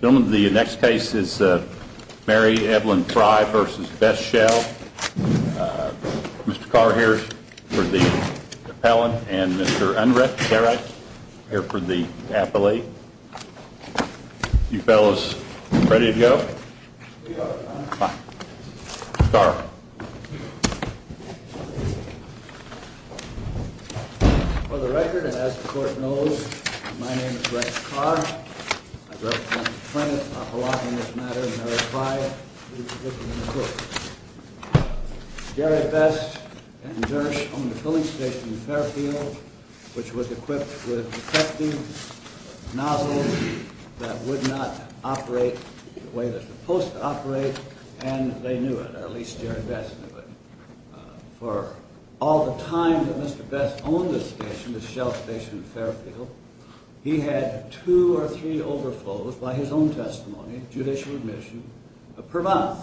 Gentlemen, the next case is Mary Evelyn Frye v. Best Shell. Mr. Carr here for the appellant and Mr. Unrecht, here for the appellee. You fellows ready to go? Mr. Carr. For the record, as the court knows, my name is Rex Carr. I represent the plaintiffs appellate in this matter, Mary Frye v. Mr. Cook. Jerry Best and Jersh owned a filling station in Fairfield, which was equipped with detecting nozzles that would not operate the way they're supposed to operate, and they knew it. At least Jerry Best knew it. For all the time that Mr. Best owned this station, this Shell station in Fairfield, he had two or three overflows by his own testimony, judicial admission, per month.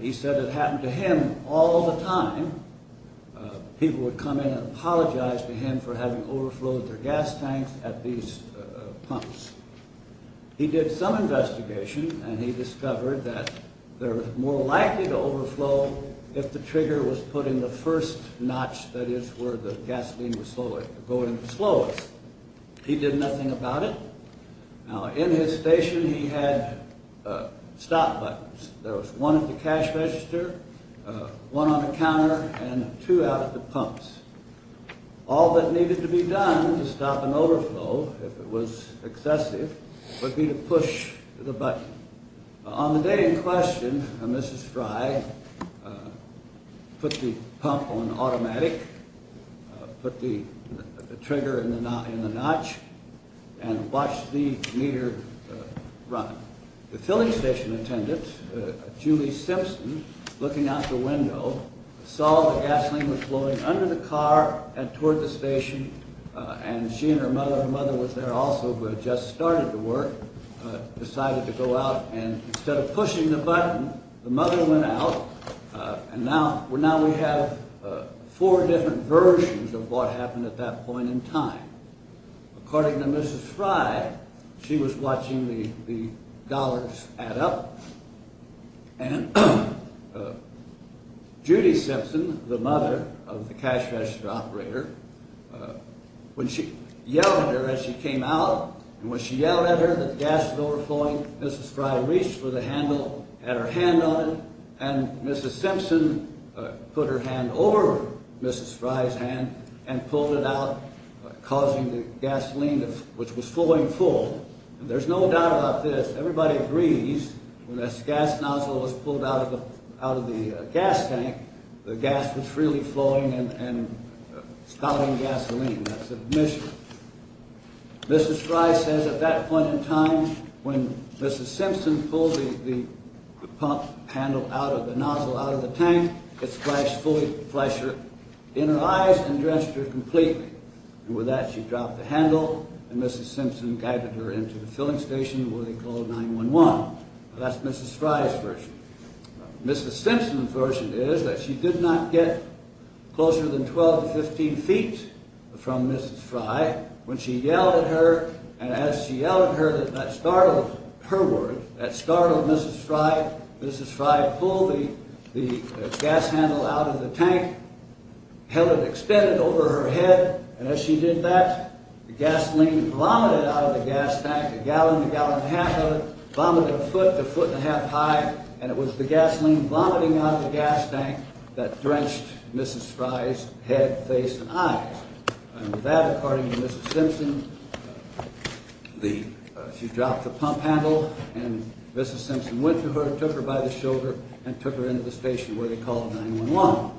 He said it happened to him all the time. People would come in and apologize to him for having overflowed their gas tanks at these pumps. He did some investigation, and he discovered that they were more likely to overflow if the trigger was put in the first notch, that is, where the gasoline was going the slowest. He did nothing about it. Now, in his station, he had stop buttons. There was one at the cash register, one on the counter, and two out at the pumps. All that needed to be done to stop an overflow, if it was excessive, would be to push the button. On the day in question, Mrs. Frye put the pump on automatic, put the trigger in the notch, and watched the meter run. The filling station attendant, Julie Simpson, looking out the window, saw the gasoline was flowing under the car and toward the station. She and her mother—her mother was there also, but had just started the work—decided to go out. Instead of pushing the button, the mother went out. Now we have four different versions of what happened at that point in time. According to Mrs. Frye, she was watching the dollars add up, and Judy Simpson, the mother of the cash register operator, when she yelled at her as she came out, and when she yelled at her that the gas was overflowing, Mrs. Frye reached for the handle, had her hand on it, and Mrs. Simpson put her hand over Mrs. Frye's hand and pulled it out, causing the gasoline, which was flowing full. There's no doubt about this. Everybody agrees when this gas nozzle was pulled out of the gas tank, the gas was freely flowing and spouting gasoline. That's admission. Mrs. Frye says at that point in time, when Mrs. Simpson pulled the pump handle out of the nozzle, out of the tank, it splashed fully in her eyes and drenched her completely. And with that, she dropped the handle, and Mrs. Simpson guided her into the filling station where they called 911. Mrs. Simpson's version is that she did not get closer than 12 to 15 feet from Mrs. Frye when she yelled at her, and as she yelled at her, that startled her, that startled Mrs. Frye. Mrs. Frye pulled the gas handle out of the tank, held it extended over her head, and as she did that, the gasoline vomited out of the gas tank, a gallon to a gallon and a half of it, vomited a foot to a foot and a half high, and it was the gasoline vomiting out of the gas tank that drenched Mrs. Frye's head, face, and eyes. And with that, according to Mrs. Simpson, she dropped the pump handle, and Mrs. Simpson went to her, took her by the shoulder, and took her into the station where they called 911.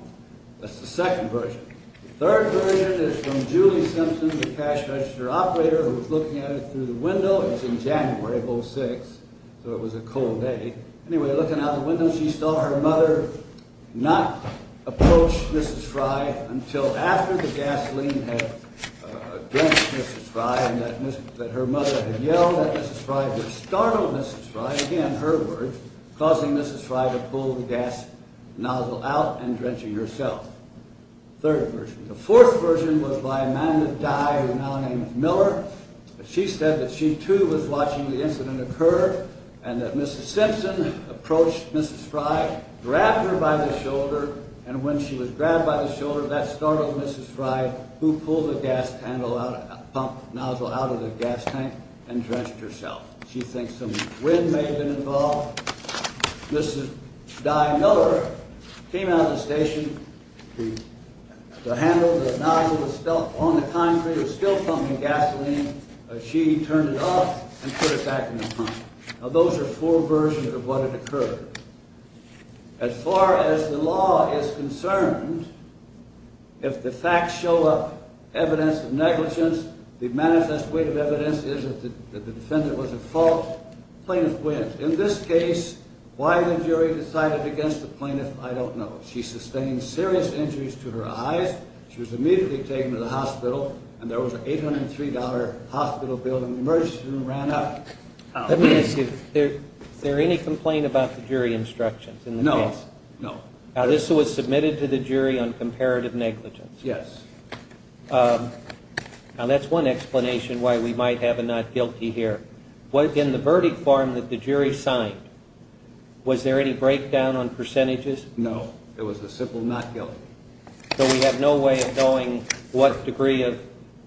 That's the second version. The third version is from Julie Simpson, the cash register operator, who was looking at it through the window. It was in January of 06, so it was a cold day. Anyway, looking out the window, she saw her mother not approach Mrs. Frye until after the gasoline had drenched Mrs. Frye, and that her mother had yelled at Mrs. Frye, had startled Mrs. Frye, again, her words, causing Mrs. Frye to pull the gas nozzle out and drenching herself. Third version. The fourth version was by Amanda Dye, now named Miller. She said that she, too, was watching the incident occur, and that Mrs. Simpson approached Mrs. Frye, grabbed her by the shoulder, and when she was grabbed by the shoulder, that startled Mrs. Frye, who pulled the pump nozzle out of the gas tank and drenched herself. She thinks some wind may have been involved. Mrs. Dye Miller came out of the station, the handle, the nozzle was still on the concrete, it was still pumping gasoline. She turned it off and put it back in the pump. Now, those are four versions of what had occurred. As far as the law is concerned, if the facts show up, evidence of negligence, the manifest weight of evidence is that the defendant was at fault, plaintiff wins. In this case, why the jury decided against the plaintiff, I don't know. She sustained serious injuries to her eyes. She was immediately taken to the hospital, and there was an $803 hospital bill, and the emergency room ran up. Let me ask you, is there any complaint about the jury instructions in the case? No, no. Now, this was submitted to the jury on comparative negligence? Yes. Now, that's one explanation why we might have a not guilty here. In the verdict form that the jury signed, was there any breakdown on percentages? No. It was a simple not guilty. So we have no way of knowing what degree of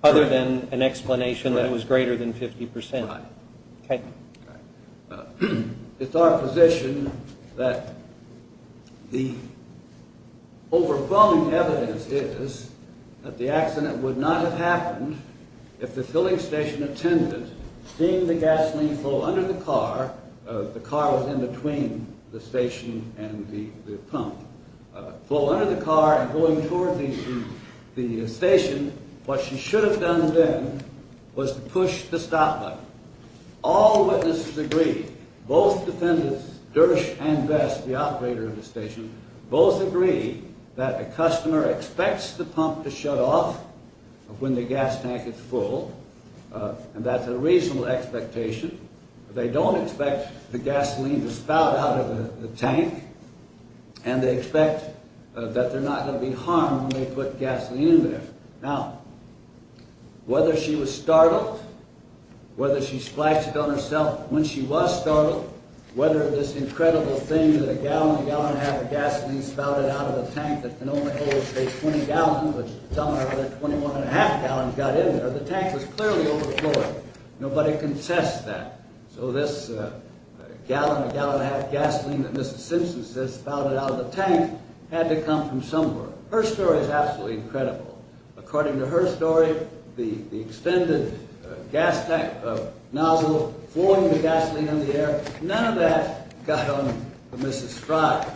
other than an explanation that it was greater than 50%. Right. Okay. Okay. It's our position that the overblown evidence is that the accident would not have happened if the filling station attendant, seeing the gasoline flow under the car, the car was in between the station and the pump, flow under the car and going toward the station, what she should have done then was to push the stop button. All witnesses agree, both defendants, Dersch and Vest, the operator of the station, both agree that the customer expects the pump to shut off when the gas tank is full, and that's a reasonable expectation. They don't expect the gasoline to spout out of the tank, and they expect that they're not going to be harmed when they put gasoline in there. Now, whether she was startled, whether she splashed it on herself when she was startled, whether this incredible thing that a gallon, a gallon and a half of gasoline spouted out of a tank that can only hold, say, 20 gallons, which some other 21 and a half gallons got in there, the tank was clearly overflowing. Nobody can test that. So this gallon, a gallon and a half of gasoline that Mr. Simpson says spouted out of the tank had to come from somewhere. Her story is absolutely incredible. According to her story, the extended gas tank nozzle flowing the gasoline in the air, none of that got on Mrs. Frye.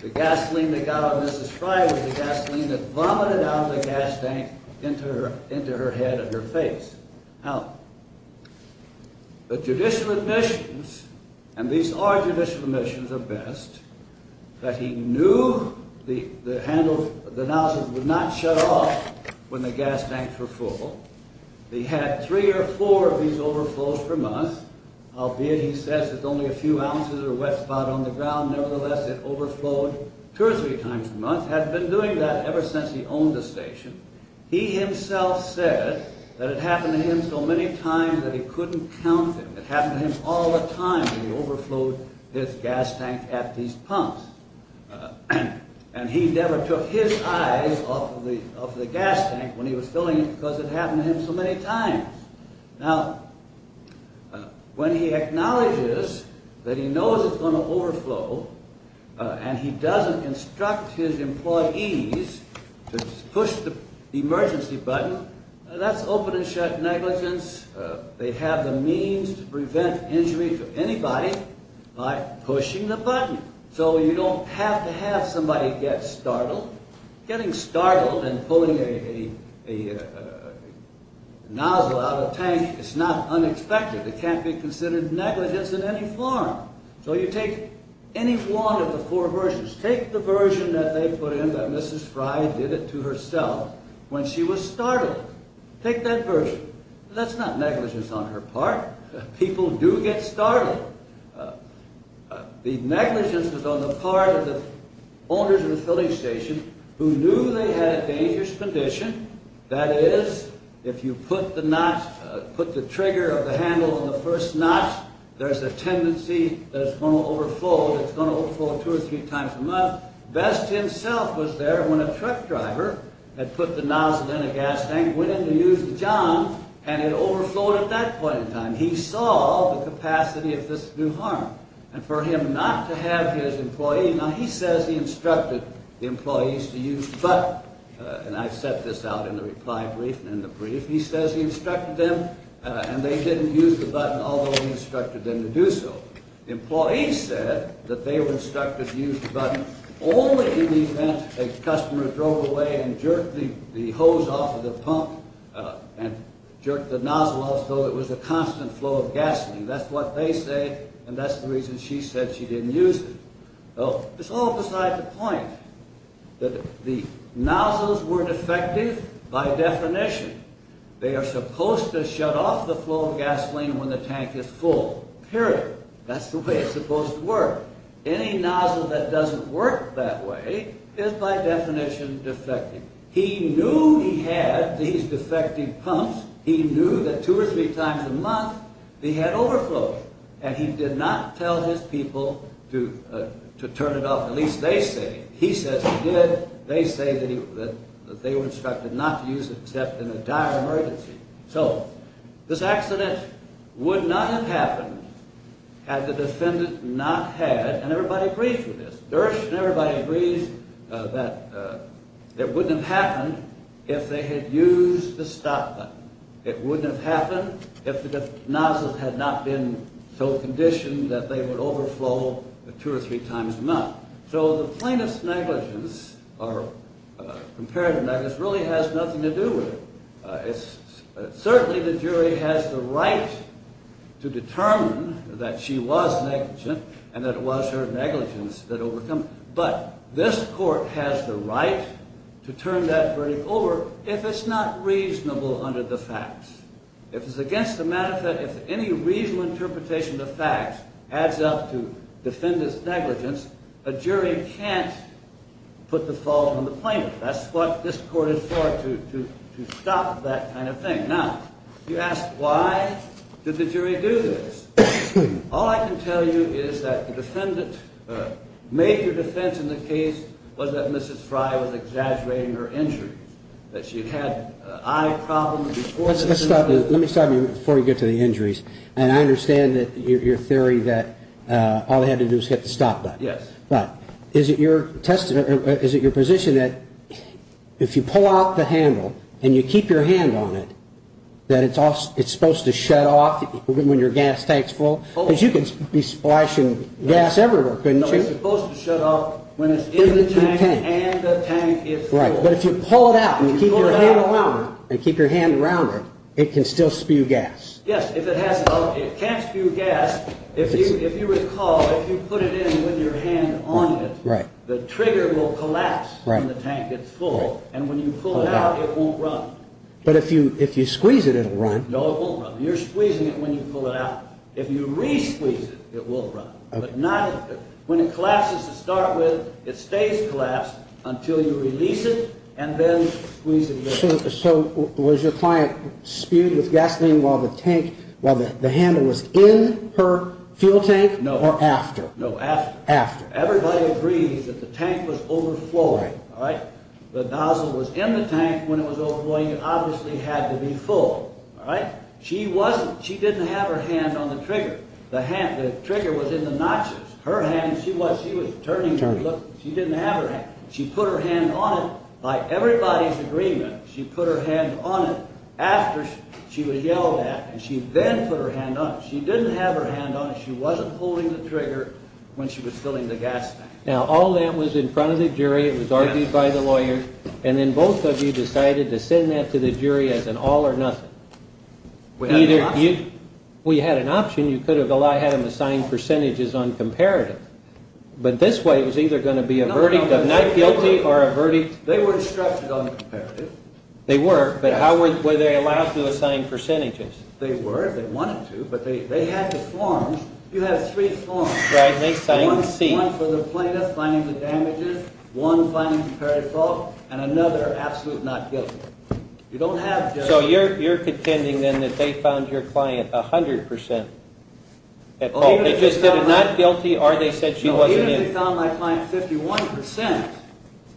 The gasoline that got on Mrs. Frye was the gasoline that vomited out of the gas tank into her head and her face. Now, the judicial admissions, and these are judicial admissions at best, that he knew the nozzle would not shut off when the gas tanks were full. He had three or four of these overflows per month. Albeit, he says, it's only a few ounces of wet spot on the ground. Nevertheless, it overflowed two or three times a month. Had been doing that ever since he owned the station. He himself said that it happened to him so many times that he couldn't count them. It happened to him all the time when he overflowed his gas tank at these pumps. And he never took his eyes off of the gas tank when he was filling it because it happened to him so many times. Now, when he acknowledges that he knows it's going to overflow, and he doesn't instruct his employees to push the emergency button, that's open and shut negligence. They have the means to prevent injury to anybody by pushing the button. So you don't have to have somebody get startled. Getting startled and pulling a nozzle out of a tank is not unexpected. It can't be considered negligence in any form. So you take any one of the four versions. Take the version that they put in that Mrs. Fry did it to herself when she was startled. Take that version. That's not negligence on her part. People do get startled. The negligence was on the part of the owners of the filling station who knew they had a dangerous condition. That is, if you put the trigger of the handle on the first notch, there's a tendency that it's going to overflow. It's going to overflow two or three times a month. Best himself was there when a truck driver had put the nozzle in a gas tank, went in to use the john, and it overflowed at that point in time. He saw the capacity of this to do harm. And for him not to have his employee, now he says he instructed the employees to use the button, and I set this out in the reply brief and in the brief. He says he instructed them, and they didn't use the button, although he instructed them to do so. Employees said that they were instructed to use the button only in the event a customer drove away and jerked the hose off of the pump and jerked the nozzle off, though it was a constant flow of gasoline. That's what they say, and that's the reason she said she didn't use it. Well, it's all beside the point that the nozzles weren't effective by definition. They are supposed to shut off the flow of gasoline when the tank is full, period. That's the way it's supposed to work. Any nozzle that doesn't work that way is by definition defective. He knew he had these defective pumps. He knew that two or three times a month they had overflow, and he did not tell his people to turn it off, at least they say. He says he did. They say that they were instructed not to use it except in a dire emergency. So this accident would not have happened had the defendant not had, and everybody agrees with this. Dersh and everybody agrees that it wouldn't have happened if they had used the stop button. It wouldn't have happened if the nozzles had not been so conditioned that they would overflow two or three times a month. So the plaintiff's negligence or comparative negligence really has nothing to do with it. Certainly the jury has the right to determine that she was negligent and that it was her negligence that overcame, but this court has the right to turn that verdict over if it's not reasonable under the facts. If it's against the matter of fact, if any reasonable interpretation of facts adds up to defendant's negligence, a jury can't put the fault on the plaintiff. That's what this court is for, to stop that kind of thing. Now, you ask why did the jury do this? All I can tell you is that the defendant's major defense in the case was that Mrs. Frye was exaggerating her injuries, that she had eye problems before this. Let me stop you before you get to the injuries, and I understand your theory that all they had to do was hit the stop button. Yes. But is it your position that if you pull out the handle and you keep your hand on it, that it's supposed to shut off when your gas tank's full? Because you could be splashing gas everywhere, couldn't you? No, it's supposed to shut off when it's in the tank and the tank is full. Right, but if you pull it out and you keep your hand around it, it can still spew gas. Yes, it can't spew gas. If you recall, if you put it in with your hand on it, the trigger will collapse when the tank gets full, and when you pull it out, it won't run. But if you squeeze it, it'll run. No, it won't run. You're squeezing it when you pull it out. If you re-squeeze it, it will run. When it collapses to start with, it stays collapsed until you release it and then squeeze it again. So was your client spewed with gasoline while the handle was in her fuel tank or after? No, after. After. Everybody agrees that the tank was overflowing. The nozzle was in the tank when it was overflowing. It obviously had to be full. She didn't have her hand on the trigger. The trigger was in the notches. Her hand, she was turning. She didn't have her hand. She put her hand on it by everybody's agreement. She put her hand on it after she was yelled at, and she then put her hand on it. She didn't have her hand on it. She wasn't pulling the trigger when she was filling the gas tank. Now, all that was in front of the jury. It was argued by the lawyers, and then both of you decided to send that to the jury as an all or nothing. We had an option. We had an option. You could have had them assign percentages on comparative. But this way it was either going to be a verdict of not guilty or a verdict. They were instructed on comparative. They were, but how were they allowed to assign percentages? They were. They wanted to, but they had to form. You had three forms. Right. They signed C. One for the plaintiff finding the damages, one finding comparative fault, and another absolute not guilty. So you're pretending then that they found your client 100% at fault. They just did a not guilty, or they said she wasn't in. No, even if they found my client 51%,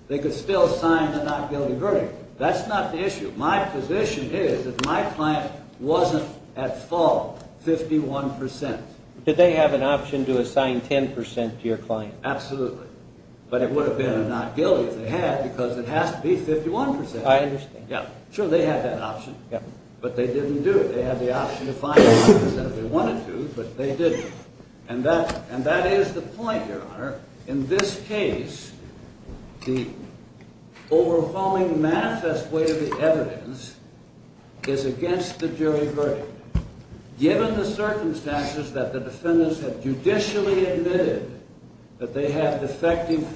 they could still assign the not guilty verdict. That's not the issue. My position is that my client wasn't at fault 51%. Did they have an option to assign 10% to your client? Absolutely. But it would have been a not guilty if they had, because it has to be 51%. I understand. Sure, they had that option, but they didn't do it. They had the option to find 10% if they wanted to, but they didn't. And that is the point, Your Honor. In this case, the overwhelming manifest way of the evidence is against the jury verdict. Given the circumstances that the defendants have judicially admitted that they have defective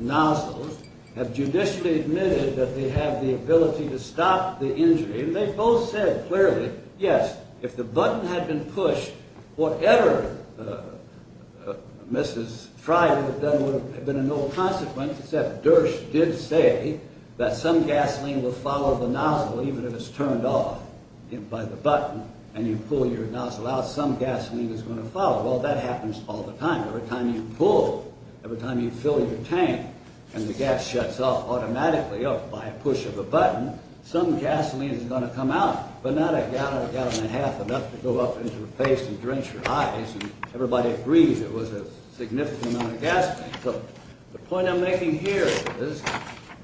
nozzles, have judicially admitted that they have the ability to stop the injury, they both said clearly, yes, if the button had been pushed, whatever Mrs. Fry had done would have been a no consequence, except Dersch did say that some gasoline will follow the nozzle, even if it's turned off by the button, and you pull your nozzle out, some gasoline is going to follow. Well, that happens all the time. Every time you pull, every time you fill your tank, and the gas shuts off automatically by a push of a button, some gasoline is going to come out, but not a gallon, a gallon and a half, enough to go up into your face and drench your eyes, and everybody agreed it was a significant amount of gasoline. So the point I'm making here is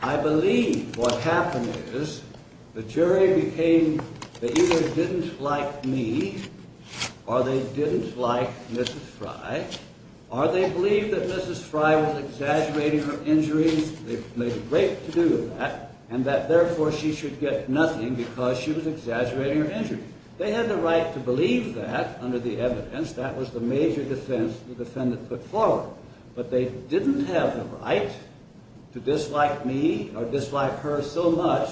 I believe what happened is the jury became, they either didn't like me, or they didn't like Mrs. Fry, or they believed that Mrs. Fry was exaggerating her injuries, they made a great to-do of that, and that therefore she should get nothing because she was exaggerating her injuries. They had the right to believe that under the evidence. That was the major defense the defendant put forward. But they didn't have the right to dislike me or dislike her so much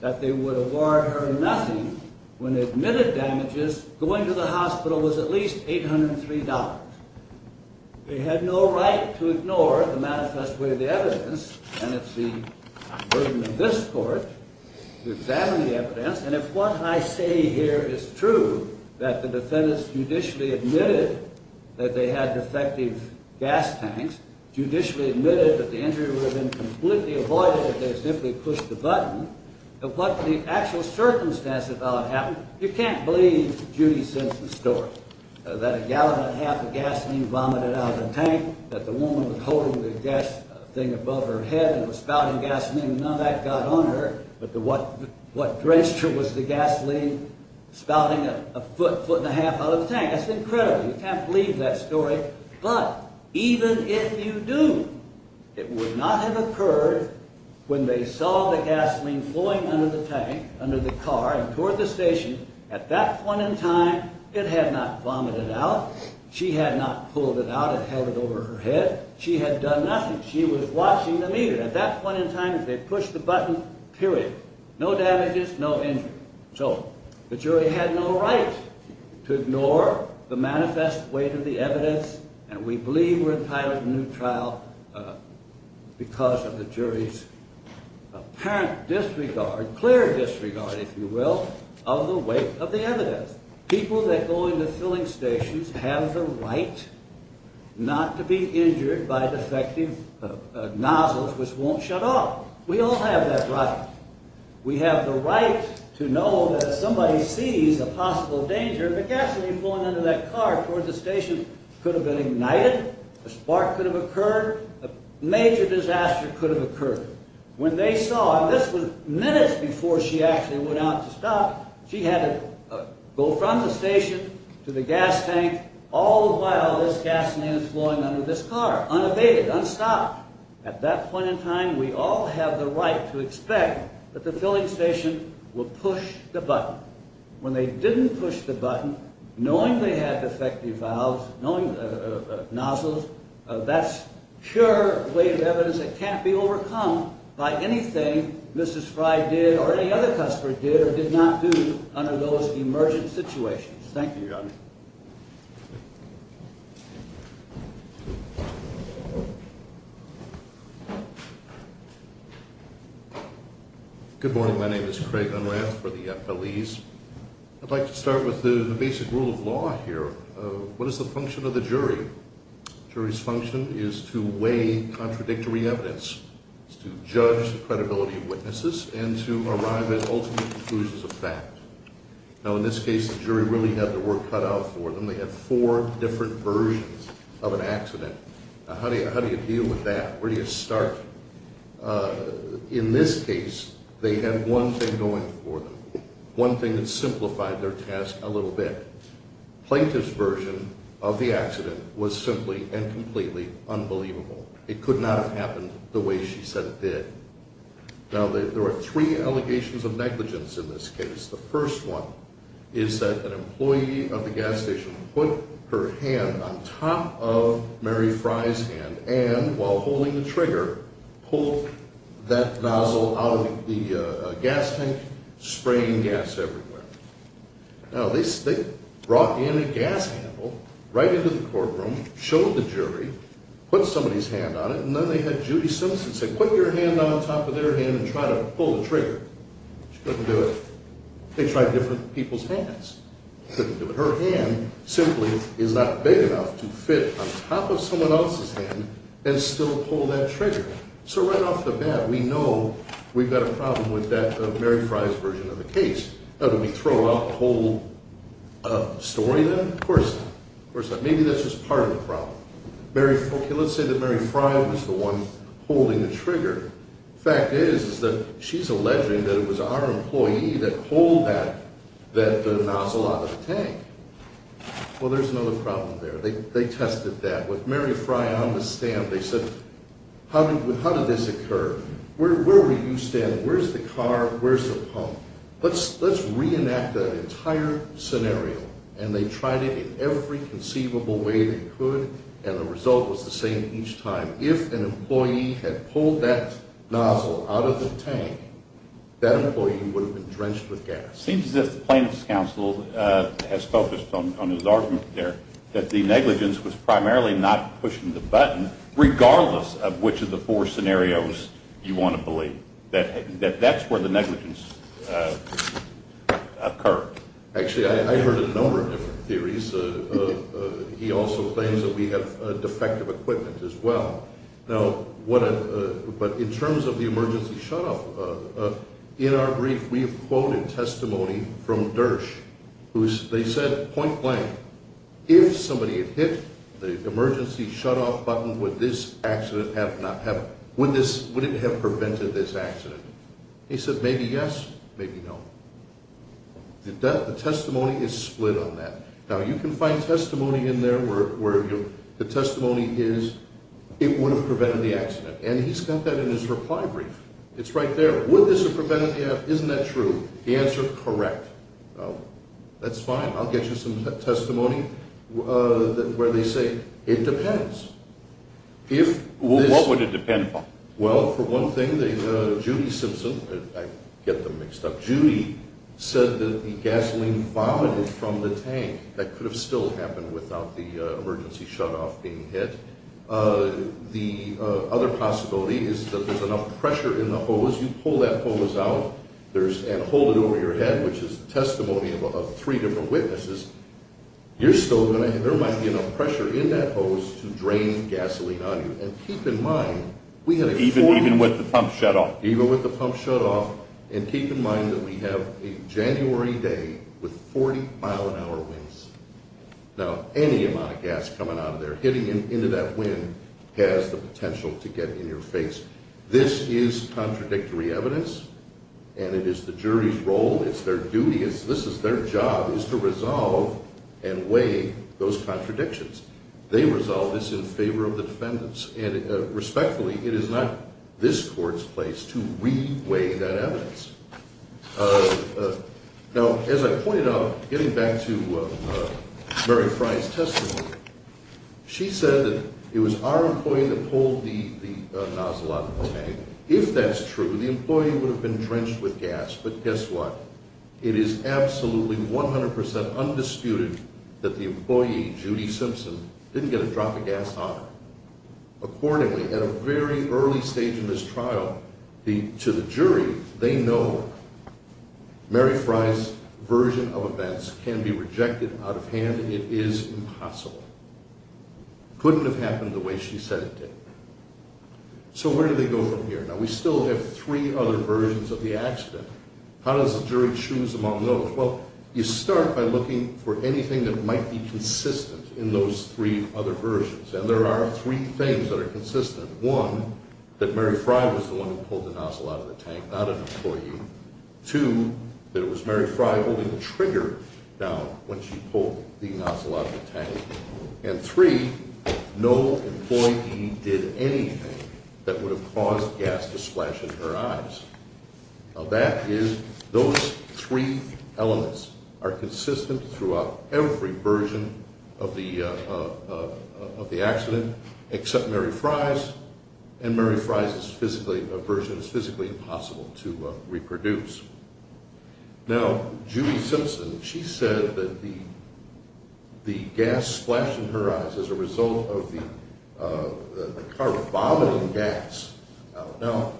that they would award her nothing when they admitted damages, going to the hospital was at least $803. They had no right to ignore the manifest way of the evidence, and it's the burden of this court to examine the evidence. And if what I say here is true, that the defendants judicially admitted that they had defective gas tanks, judicially admitted that the injury would have been completely avoided if they had simply pushed the button, but what the actual circumstance about it happened, you can't believe Judy Simpson's story, that a gallon and a half of gasoline vomited out of the tank, that the woman was holding the gas thing above her head and was spouting gasoline, none of that got on her, but what drenched her was the gasoline spouting a foot, foot and a half out of the tank. That's incredible. You can't believe that story. But even if you do, it would not have occurred when they saw the gasoline flowing under the tank, under the car and toward the station. At that point in time, it had not vomited out. She had not pulled it out and held it over her head. She had done nothing. She was watching the meter. At that point in time, they pushed the button, period. No damages, no injury. So the jury had no right to ignore the manifest way to the evidence, and we believe we're entitled to a new trial because of the jury's apparent disregard, clear disregard, if you will, of the weight of the evidence. People that go into filling stations have the right not to be injured by defective nozzles, which won't shut off. We all have that right. We have the right to know that if somebody sees a possible danger, the gasoline flowing into that car toward the station could have been ignited, a spark could have occurred, a major disaster could have occurred. When they saw, and this was minutes before she actually went out to stop, she had to go from the station to the gas tank all the while this gasoline was flowing under this car, unabated, unstopped. At that point in time, we all have the right to expect that the filling station will push the button. When they didn't push the button, knowing they had defective valves, nozzles, that's sure weight of evidence that can't be overcome by anything Mrs. Fry did or any other customer did or did not do under those emergent Thank you, Your Honor. Good morning. My name is Craig Unrath for the FLEs. I'd like to start with the basic rule of law here. What is the function of the jury? The jury's function is to weigh contradictory evidence. It's to judge the credibility of witnesses and to arrive at ultimate conclusions of fact. Now, in this case, the jury really had their work cut out for them. They had four different versions of an accident. How do you deal with that? Where do you start? In this case, they had one thing going for them, one thing that simplified their task a little bit. Plaintiff's version of the accident was simply and completely unbelievable. It could not have happened the way she said it did. Now, there are three allegations of negligence in this case. The first one is that an employee of the gas station put her hand on top of Mary Fry's hand and, while holding the trigger, pulled that nozzle out of the gas tank, spraying gas everywhere. Now, they brought in a gas handle right into the courtroom, showed the jury, put somebody's hand on it, and then they had Judy Simpson say, put your hand on top of their hand and try to pull the trigger. She couldn't do it. They tried different people's hands. Couldn't do it. Her hand simply is not big enough to fit on top of someone else's hand and still pull that trigger. So right off the bat, we know we've got a problem with that Mary Fry's version of the case. Now, do we throw out the whole story then? Of course not. Of course not. Maybe that's just part of the problem. Okay, let's say that Mary Fry was the one holding the trigger. The fact is that she's alleging that it was our employee that pulled that nozzle out of the tank. Well, there's another problem there. They tested that. With Mary Fry on the stand, they said, how did this occur? Where were you standing? Where's the car? Where's the pump? Let's reenact that entire scenario. And they tried it in every conceivable way they could, and the result was the same each time. If an employee had pulled that nozzle out of the tank, that employee would have been drenched with gas. It seems as if the plaintiff's counsel has focused on his argument there, that the negligence was primarily not pushing the button, regardless of which of the four scenarios you want to believe. That's where the negligence occurred. Actually, I heard a number of different theories. He also claims that we have defective equipment as well. But in terms of the emergency shutoff, in our brief, we have quoted testimony from DERSH. They said, point blank, if somebody had hit the emergency shutoff button, would it have prevented this accident? He said, maybe yes, maybe no. The testimony is split on that. Now, you can find testimony in there where the testimony is, it would have prevented the accident. And he's got that in his reply brief. It's right there. Would this have prevented the accident? Isn't that true? The answer, correct. That's fine. I'll get you some testimony where they say it depends. What would it depend upon? Well, for one thing, Judy Simpson, I get them mixed up, Judy said that the gasoline vomited from the tank. That could have still happened without the emergency shutoff being hit. The other possibility is that there's enough pressure in the hose. You pull that hose out and hold it over your head, which is the testimony of three different witnesses, there might be enough pressure in that hose to drain gasoline on you. And keep in mind, we have a 40-mile-an-hour wind. Even with the pump shut off. Even with the pump shut off. And keep in mind that we have a January day with 40-mile-an-hour winds. Now, any amount of gas coming out of there, hitting into that wind has the potential to get in your face. This is contradictory evidence, and it is the jury's role. It's their duty. This is their job, is to resolve and weigh those contradictions. They resolve this in favor of the defendants. And respectfully, it is not this court's place to re-weigh that evidence. Now, as I pointed out, getting back to Mary Fry's testimony, she said that it was our employee that pulled the nozzle out of the tank. If that's true, the employee would have been drenched with gas. But guess what? It is absolutely 100% undisputed that the employee, Judy Simpson, didn't get a drop of gas on her. Accordingly, at a very early stage in this trial, to the jury, they know Mary Fry's version of events can be rejected out of hand. It is impossible. Couldn't have happened the way she said it did. So where do they go from here? Now, we still have three other versions of the accident. How does the jury choose among those? Well, you start by looking for anything that might be consistent in those three other versions. And there are three things that are consistent. One, that Mary Fry was the one who pulled the nozzle out of the tank, not an employee. Two, that it was Mary Fry holding the trigger down when she pulled the nozzle out of the tank. And three, no employee did anything that would have caused gas to splash in her eyes. Now, that is those three elements are consistent throughout every version of the accident, except Mary Fry's, and Mary Fry's version is physically impossible to reproduce. Now, Julie Simpson, she said that the gas splashed in her eyes as a result of the car vomiting gas. Now,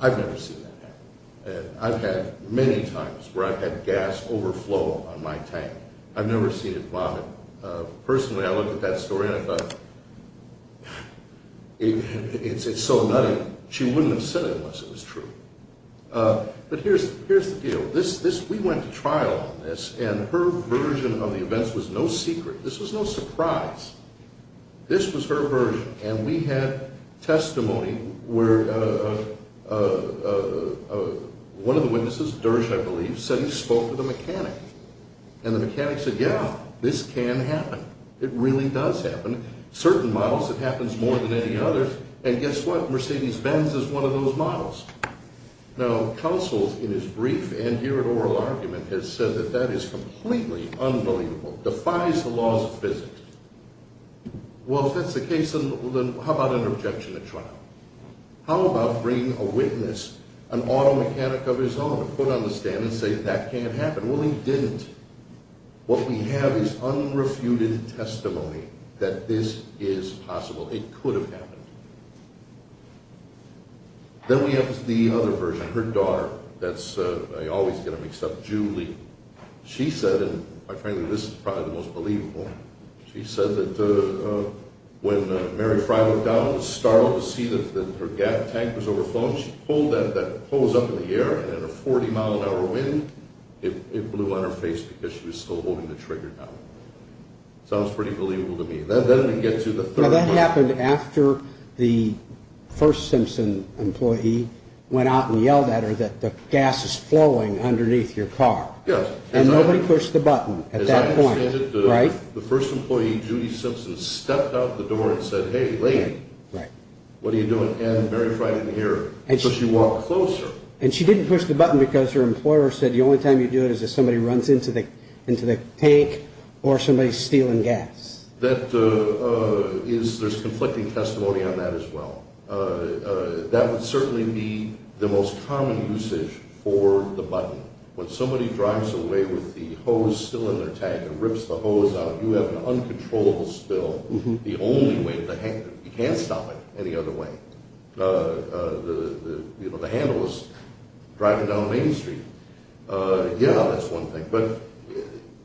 I've never seen that happen. I've had many times where I've had gas overflow on my tank. I've never seen it vomit. Personally, I looked at that story and I thought, it's so nutty. She wouldn't have said it unless it was true. But here's the deal. We went to trial on this, and her version of the events was no secret. This was no surprise. This was her version, and we had testimony where one of the witnesses, Dersch, I believe, said he spoke to the mechanic. And the mechanic said, yeah, this can happen. It really does happen. Certain models, it happens more than any other. And guess what? Mercedes-Benz is one of those models. Now, counsel, in his brief and here in oral argument, has said that that is completely unbelievable, defies the laws of physics. Well, if that's the case, then how about an objection to trial? How about bringing a witness, an auto mechanic of his own, to put on the stand and say that can't happen? Well, he didn't. What we have is unrefuted testimony that this is possible. It could have happened. Then we have the other version, her daughter. I always get them mixed up, Julie. She said, and my friend, this is probably the most believable, she said that when Mary Frye went down, startled to see that her gas tank was overflowing, she pulled that hose up in the air, and in a 40-mile-an-hour wind, it blew on her face because she was still holding the trigger down. Sounds pretty believable to me. Now, that happened after the first Simpson employee went out and yelled at her that the gas is flowing underneath your car. And nobody pushed the button at that point. The first employee, Judy Simpson, stepped out the door and said, hey, lady, what are you doing? And Mary Frye didn't hear her. So she walked closer. And she didn't push the button because her employer said the only time you do it is if somebody runs into the tank or somebody's stealing gas. There's conflicting testimony on that as well. That would certainly be the most common usage for the button. When somebody drives away with the hose still in their tank and rips the hose out, you have an uncontrollable spill. The only way, you can't stop it any other way. The handle is driving down Main Street. Yeah, that's one thing.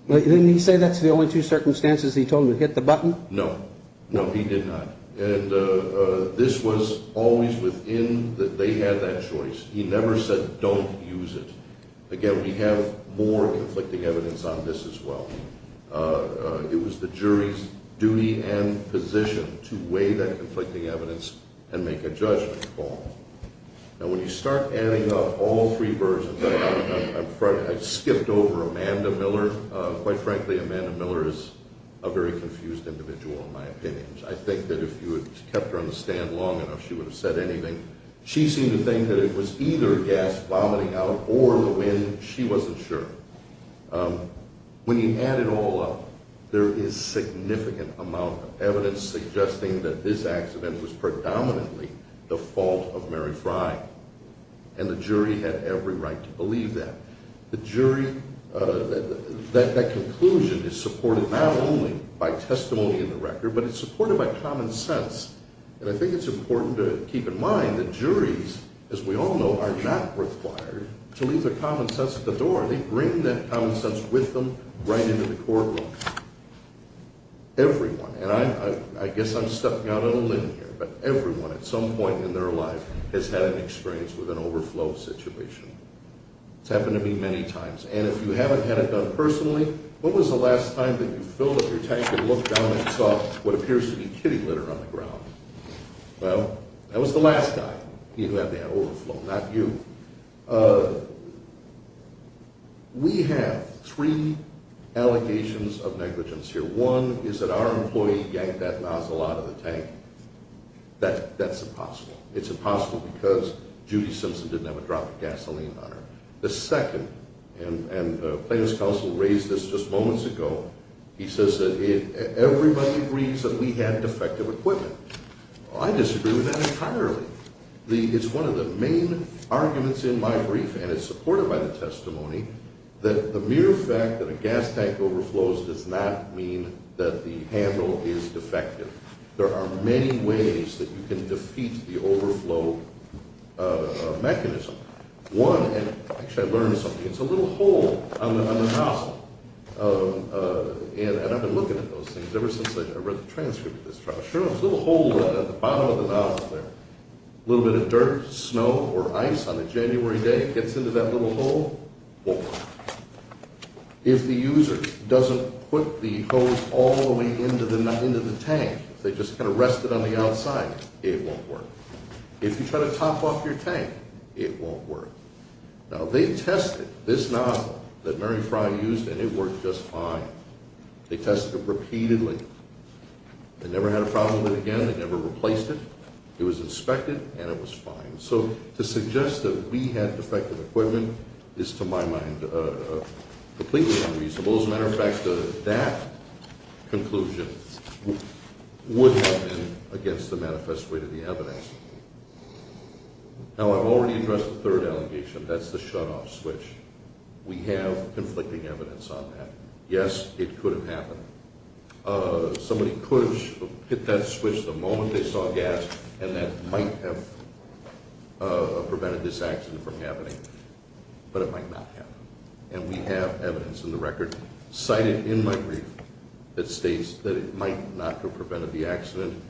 Didn't he say that's the only two circumstances he told him to hit the button? No. No, he did not. And this was always within that they had that choice. He never said don't use it. Again, we have more conflicting evidence on this as well. It was the jury's duty and position to weigh that conflicting evidence and make a judgment call. Now, when you start adding up all three versions, I skipped over Amanda Miller. Quite frankly, Amanda Miller is a very confused individual in my opinion. I think that if you had kept her on the stand long enough, she would have said anything. She seemed to think that it was either gas vomiting out or the wind. She wasn't sure. When you add it all up, there is significant amount of evidence suggesting that this accident was predominantly the fault of Mary Fry. And the jury had every right to believe that. The jury, that conclusion is supported not only by testimony in the record, but it's supported by common sense. And I think it's important to keep in mind that juries, as we all know, are not required to leave their common sense at the door. They bring that common sense with them right into the courtroom. Everyone, and I guess I'm stepping out on a limb here, but everyone at some point in their life has had an experience with an overflow situation. It's happened to me many times. And if you haven't had it done personally, what was the last time that you filled up your tank and looked down and saw what appears to be kitty litter on the ground? Well, that was the last guy. He had overflow, not you. We have three allegations of negligence here. One is that our employee yanked that nozzle out of the tank. That's impossible. It's impossible because Judy Simpson didn't have a drop of gasoline on her. The second, and plaintiff's counsel raised this just moments ago, he says that everybody agrees that we had defective equipment. I disagree with that entirely. It's one of the main arguments in my brief, and it's supported by the testimony, that the mere fact that a gas tank overflows does not mean that the handle is defective. There are many ways that you can defeat the overflow mechanism. One, and actually I learned something. It's a little hole on the nozzle, and I've been looking at those things ever since I read the transcript of this trial. There's a little hole at the bottom of the nozzle there. A little bit of dirt, snow, or ice on a January day gets into that little hole. If the user doesn't put the hose all the way into the tank, if they just kind of rest it on the outside, it won't work. If you try to top off your tank, it won't work. Now, they tested this nozzle that Mary Fry used, and it worked just fine. They tested it repeatedly. They never had a problem with it again. They never replaced it. It was inspected, and it was fine. So to suggest that we had defective equipment is, to my mind, completely unreasonable. As a matter of fact, that conclusion would have been against the manifest way to the evidence. Now, I've already addressed the third allegation. That's the shutoff switch. We have conflicting evidence on that. Yes, it could have happened. Somebody could have hit that switch the moment they saw gas, and that might have prevented this accident from happening. But it might not have. And we have evidence in the record, cited in my brief, that states that it might not have prevented the accident.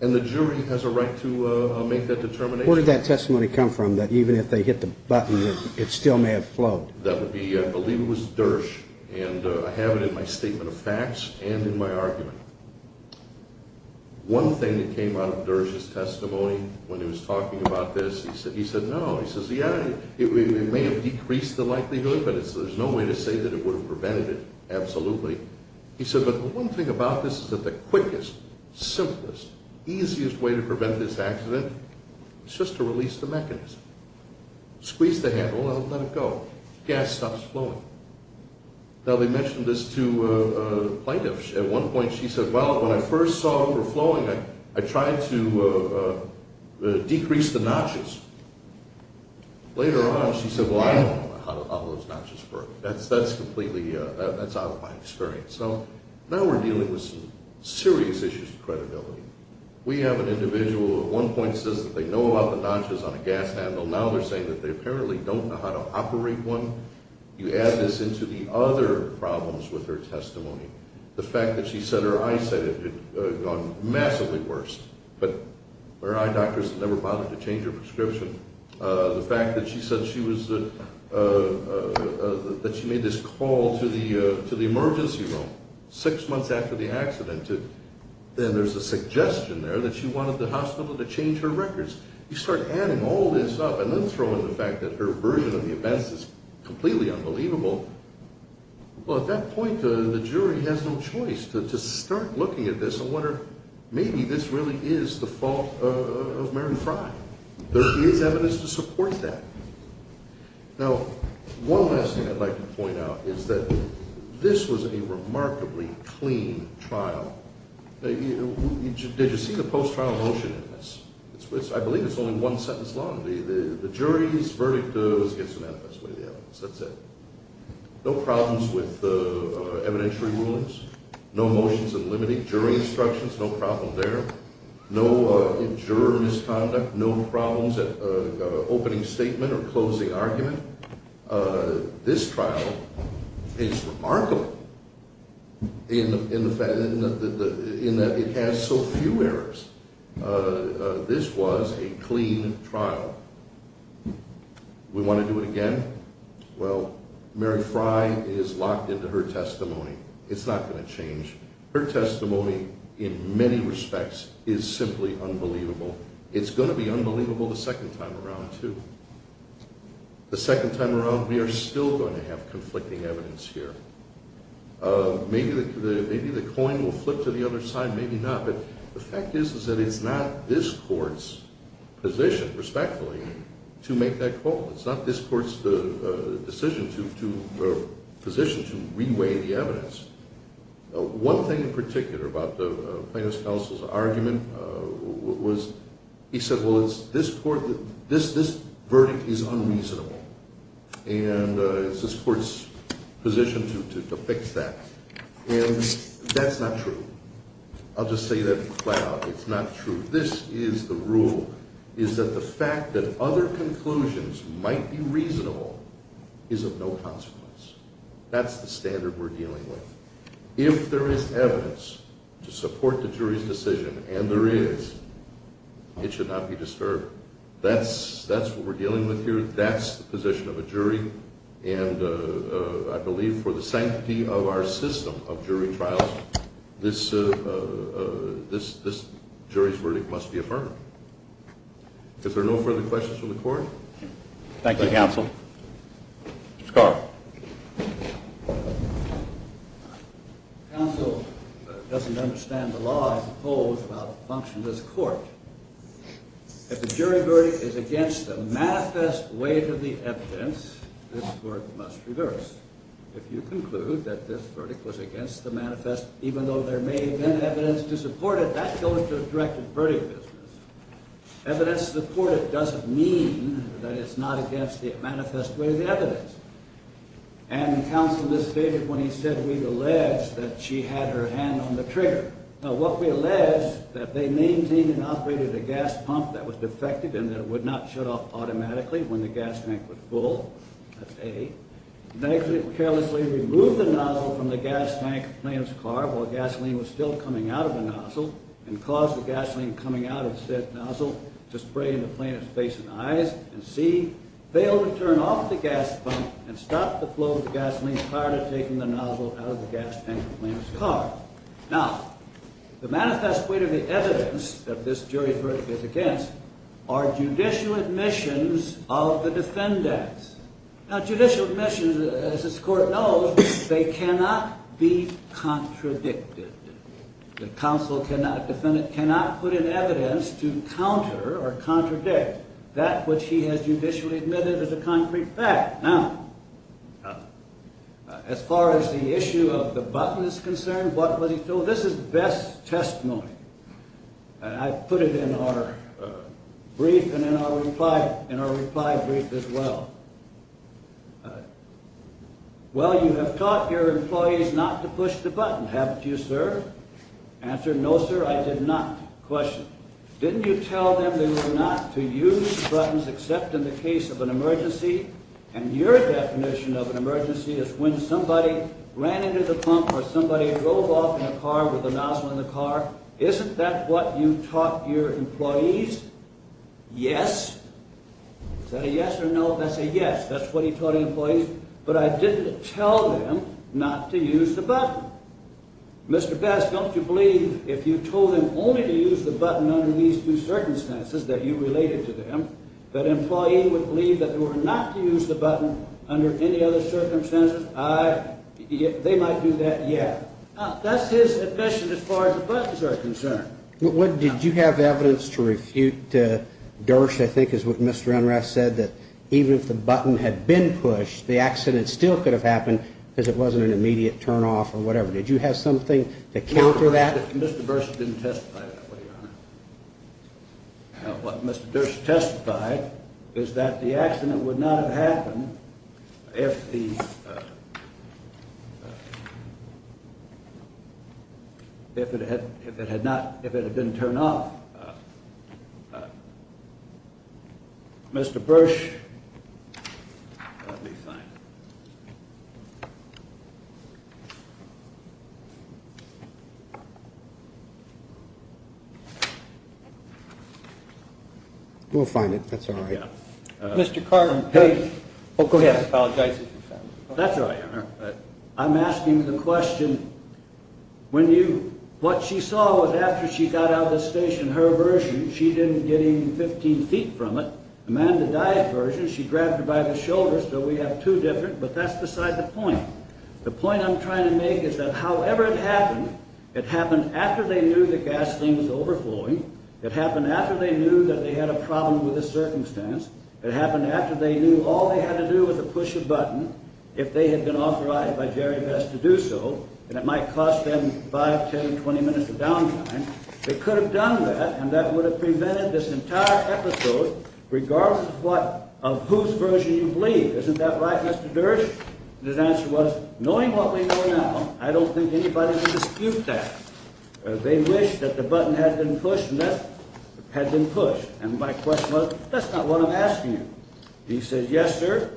And the jury has a right to make that determination. Where did that testimony come from, that even if they hit the button, it still may have flowed? That would be, I believe it was, Dersh. And I have it in my statement of facts and in my argument. One thing that came out of Dersh's testimony when he was talking about this, he said, No, it may have decreased the likelihood, but there's no way to say that it would have prevented it. Absolutely. He said, but the one thing about this is that the quickest, simplest, easiest way to prevent this accident is just to release the mechanism. Squeeze the handle and let it go. Gas stops flowing. Now, they mentioned this to plaintiffs. At one point, she said, Well, when I first saw it overflowing, I tried to decrease the notches. Later on, she said, Well, I don't know how those notches work. That's completely out of my experience. So now we're dealing with some serious issues of credibility. We have an individual who at one point says that they know about the notches on a gas handle. Now they're saying that they apparently don't know how to operate one. You add this into the other problems with her testimony. The fact that she said her eyesight had gone massively worse, but her eye doctors never bothered to change her prescription. The fact that she said she was, that she made this call to the emergency room six months after the accident. Then there's a suggestion there that she wanted the hospital to change her records. You start adding all this up and then throw in the fact that her version of the events is completely unbelievable. Well, at that point, the jury has no choice but to start looking at this and wonder, maybe this really is the fault of Mary Fry. There is evidence to support that. Now, one last thing I'd like to point out is that this was a remarkably clean trial. Did you see the post-trial motion in this? I believe it's only one sentence long. The jury's verdict goes against the manifest way of the evidence. That's it. No problems with evidentiary rulings. No motions in limiting jury instructions. No problem there. No juror misconduct. No problems at opening statement or closing argument. This trial is remarkable in that it has so few errors. This was a clean trial. We want to do it again? Well, Mary Fry is locked into her testimony. It's not going to change. Her testimony, in many respects, is simply unbelievable. It's going to be unbelievable the second time around, too. The second time around, we are still going to have conflicting evidence here. Maybe the coin will flip to the other side. Maybe not. But the fact is that it's not this court's position, respectfully, to make that call. It's not this court's position to re-weigh the evidence. One thing in particular about the plaintiff's counsel's argument was he said, well, this verdict is unreasonable, and it's this court's position to fix that. And that's not true. I'll just say that flat out. It's not true. This is the rule, is that the fact that other conclusions might be reasonable is of no consequence. That's the standard we're dealing with. If there is evidence to support the jury's decision, and there is, it should not be disturbed. That's what we're dealing with here. That's the position of a jury. And I believe for the sanctity of our system of jury trials, this jury's verdict must be affirmed. Is there no further questions from the court? Thank you, counsel. Scott. Counsel doesn't understand the law, I suppose, about the function of this court. If the jury verdict is against the manifest weight of the evidence, this court must reverse. If you conclude that this verdict was against the manifest, even though there may have been evidence to support it, that goes to the directed verdict business. Evidence to support it doesn't mean that it's not against the manifest weight of the evidence. And counsel just stated when he said, we've alleged that she had her hand on the trigger. What we allege is that they maintained and operated a gas pump that was defective and that it would not shut off automatically when the gas tank was full. That's A. They carelessly removed the nozzle from the gas tank of the plaintiff's car while gasoline was still coming out of the nozzle and caused the gasoline coming out of said nozzle to spray in the plaintiff's face and eyes. And C. Failed to turn off the gas pump and stopped the flow of the gasoline prior to taking the nozzle out of the gas tank of the plaintiff's car. Now, the manifest weight of the evidence that this jury verdict is against are judicial admissions of the defendants. Now, judicial admissions, as this court knows, they cannot be contradicted. The counsel cannot, defendant cannot put in evidence to counter or contradict that which he has judicially admitted as a concrete fact. Now, as far as the issue of the button is concerned, what was he told? This is best testimony. I put it in our brief and in our reply brief as well. Well, you have taught your employees not to push the button, haven't you, sir? Answer, no, sir, I did not. Question. Didn't you tell them they were not to use buttons except in the case of an emergency? And your definition of an emergency is when somebody ran into the pump or somebody drove off in a car with a nozzle in the car. Isn't that what you taught your employees? Yes. Is that a yes or no? That's a yes. That's what he taught his employees. But I didn't tell them not to use the button. Mr. Best, don't you believe if you told them only to use the button under these two circumstances that you related to them, that an employee would believe that they were not to use the button under any other circumstances? They might do that, yeah. That's his admission as far as the buttons are concerned. Did you have evidence to refute Dersh, I think is what Mr. Enrath said, that even if the button had been pushed, the accident still could have happened because it wasn't an immediate turnoff or whatever? Did you have something to counter that? No. Mr. Bersh didn't testify that way, Your Honor. What Mr. Dersh testified is that the accident would not have happened if it had not, if it had been turned off. Mr. Bersh. Let me find it. We'll find it. That's all right. Mr. Carter. Oh, go ahead. I apologize. That's all right, Your Honor. I'm asking the question, when you, what she saw was after she got out of the station, her version, she didn't get even 15 feet from it. Amanda Dyer's version, she grabbed her by the shoulders, so we have two different, but that's beside the point. The point I'm trying to make is that however it happened, it happened after they knew the gasoline was overflowing, it happened after they knew that they had a problem with the circumstance, it happened after they knew all they had to do was to push a button, if they had been authorized by Jerry Vest to do so, and it might cost them 5, 10, 20 minutes of downtime. They could have done that, and that would have prevented this entire episode, regardless of what, of whose version you believe. Isn't that right, Mr. Dersh? His answer was, knowing what we know now, I don't think anybody would dispute that. They wished that the button had been pushed, and that had been pushed. And my question was, that's not what I'm asking you. He said, yes, sir.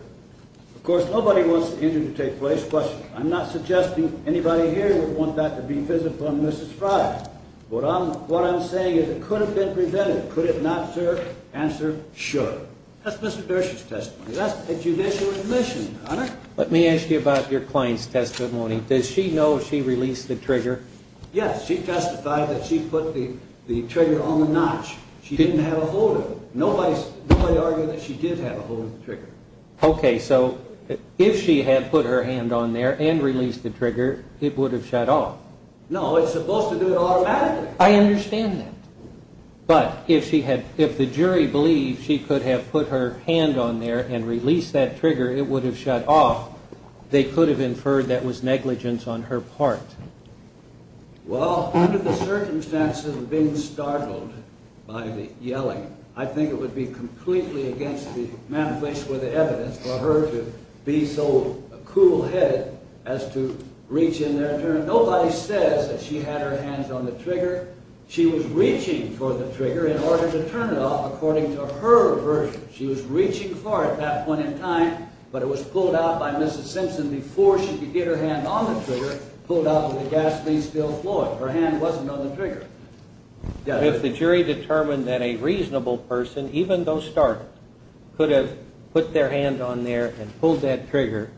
Of course, nobody wants the injury to take place, but I'm not suggesting anybody here would want that to be visible on Mrs. Fryer. What I'm saying is it could have been prevented. Could it not, sir? Answer, sure. That's Mr. Dersh's testimony. That's a judicial admission, Hunter. Let me ask you about your client's testimony. Does she know she released the trigger? Yes, she testified that she put the trigger on the notch. She didn't have a hold of it. Nobody argued that she did have a hold of the trigger. Okay, so if she had put her hand on there and released the trigger, it would have shut off. No, it's supposed to do it automatically. I understand that. But if the jury believed she could have put her hand on there and released that trigger, it would have shut off. They could have inferred that was negligence on her part. Well, under the circumstances of being startled by the yelling, I think it would be completely against the manifest with the evidence for her to be so cool-headed as to reach in there and turn. Nobody says that she had her hands on the trigger. She was reaching for the trigger in order to turn it off according to her version. She was reaching for it at that point in time, but it was pulled out by Mrs. Simpson before she could get her hand on the trigger, pulled out with the gasoline still flowing. Her hand wasn't on the trigger. If the jury determined that a reasonable person, even though startled, could have put their hand on there and pulled that trigger,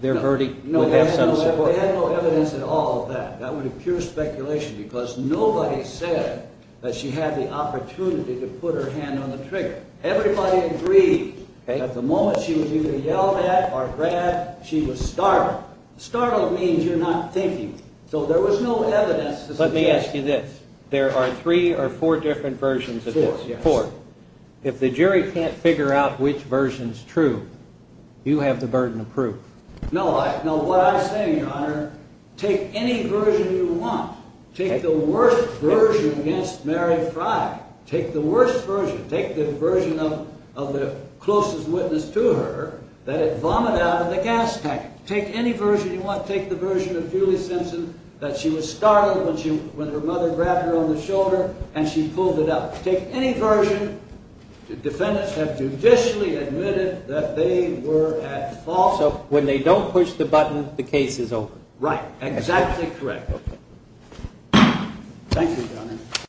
their verdict would have some support. No, they had no evidence at all of that. That would be pure speculation because nobody said that she had the opportunity to put her hand on the trigger. Everybody agreed that the moment she was either yelled at or grabbed, she was startled. Startled means you're not thinking. So there was no evidence to suggest. Let me ask you this. There are three or four different versions of this. Four, yes. Four. If the jury can't figure out which version's true, you have the burden of proof. No, what I'm saying, Your Honor, take any version you want. Take the worst version against Mary Frye. Take the worst version. Take the version of the closest witness to her that it vomited out of the gas tank. Take any version you want. Take the version of Julie Simpson that she was startled when her mother grabbed her on the shoulder and she pulled it out. Take any version. Defendants have judicially admitted that they were at fault. Also, when they don't push the button, the case is over. Right. Exactly correct. Thank you, Your Honor.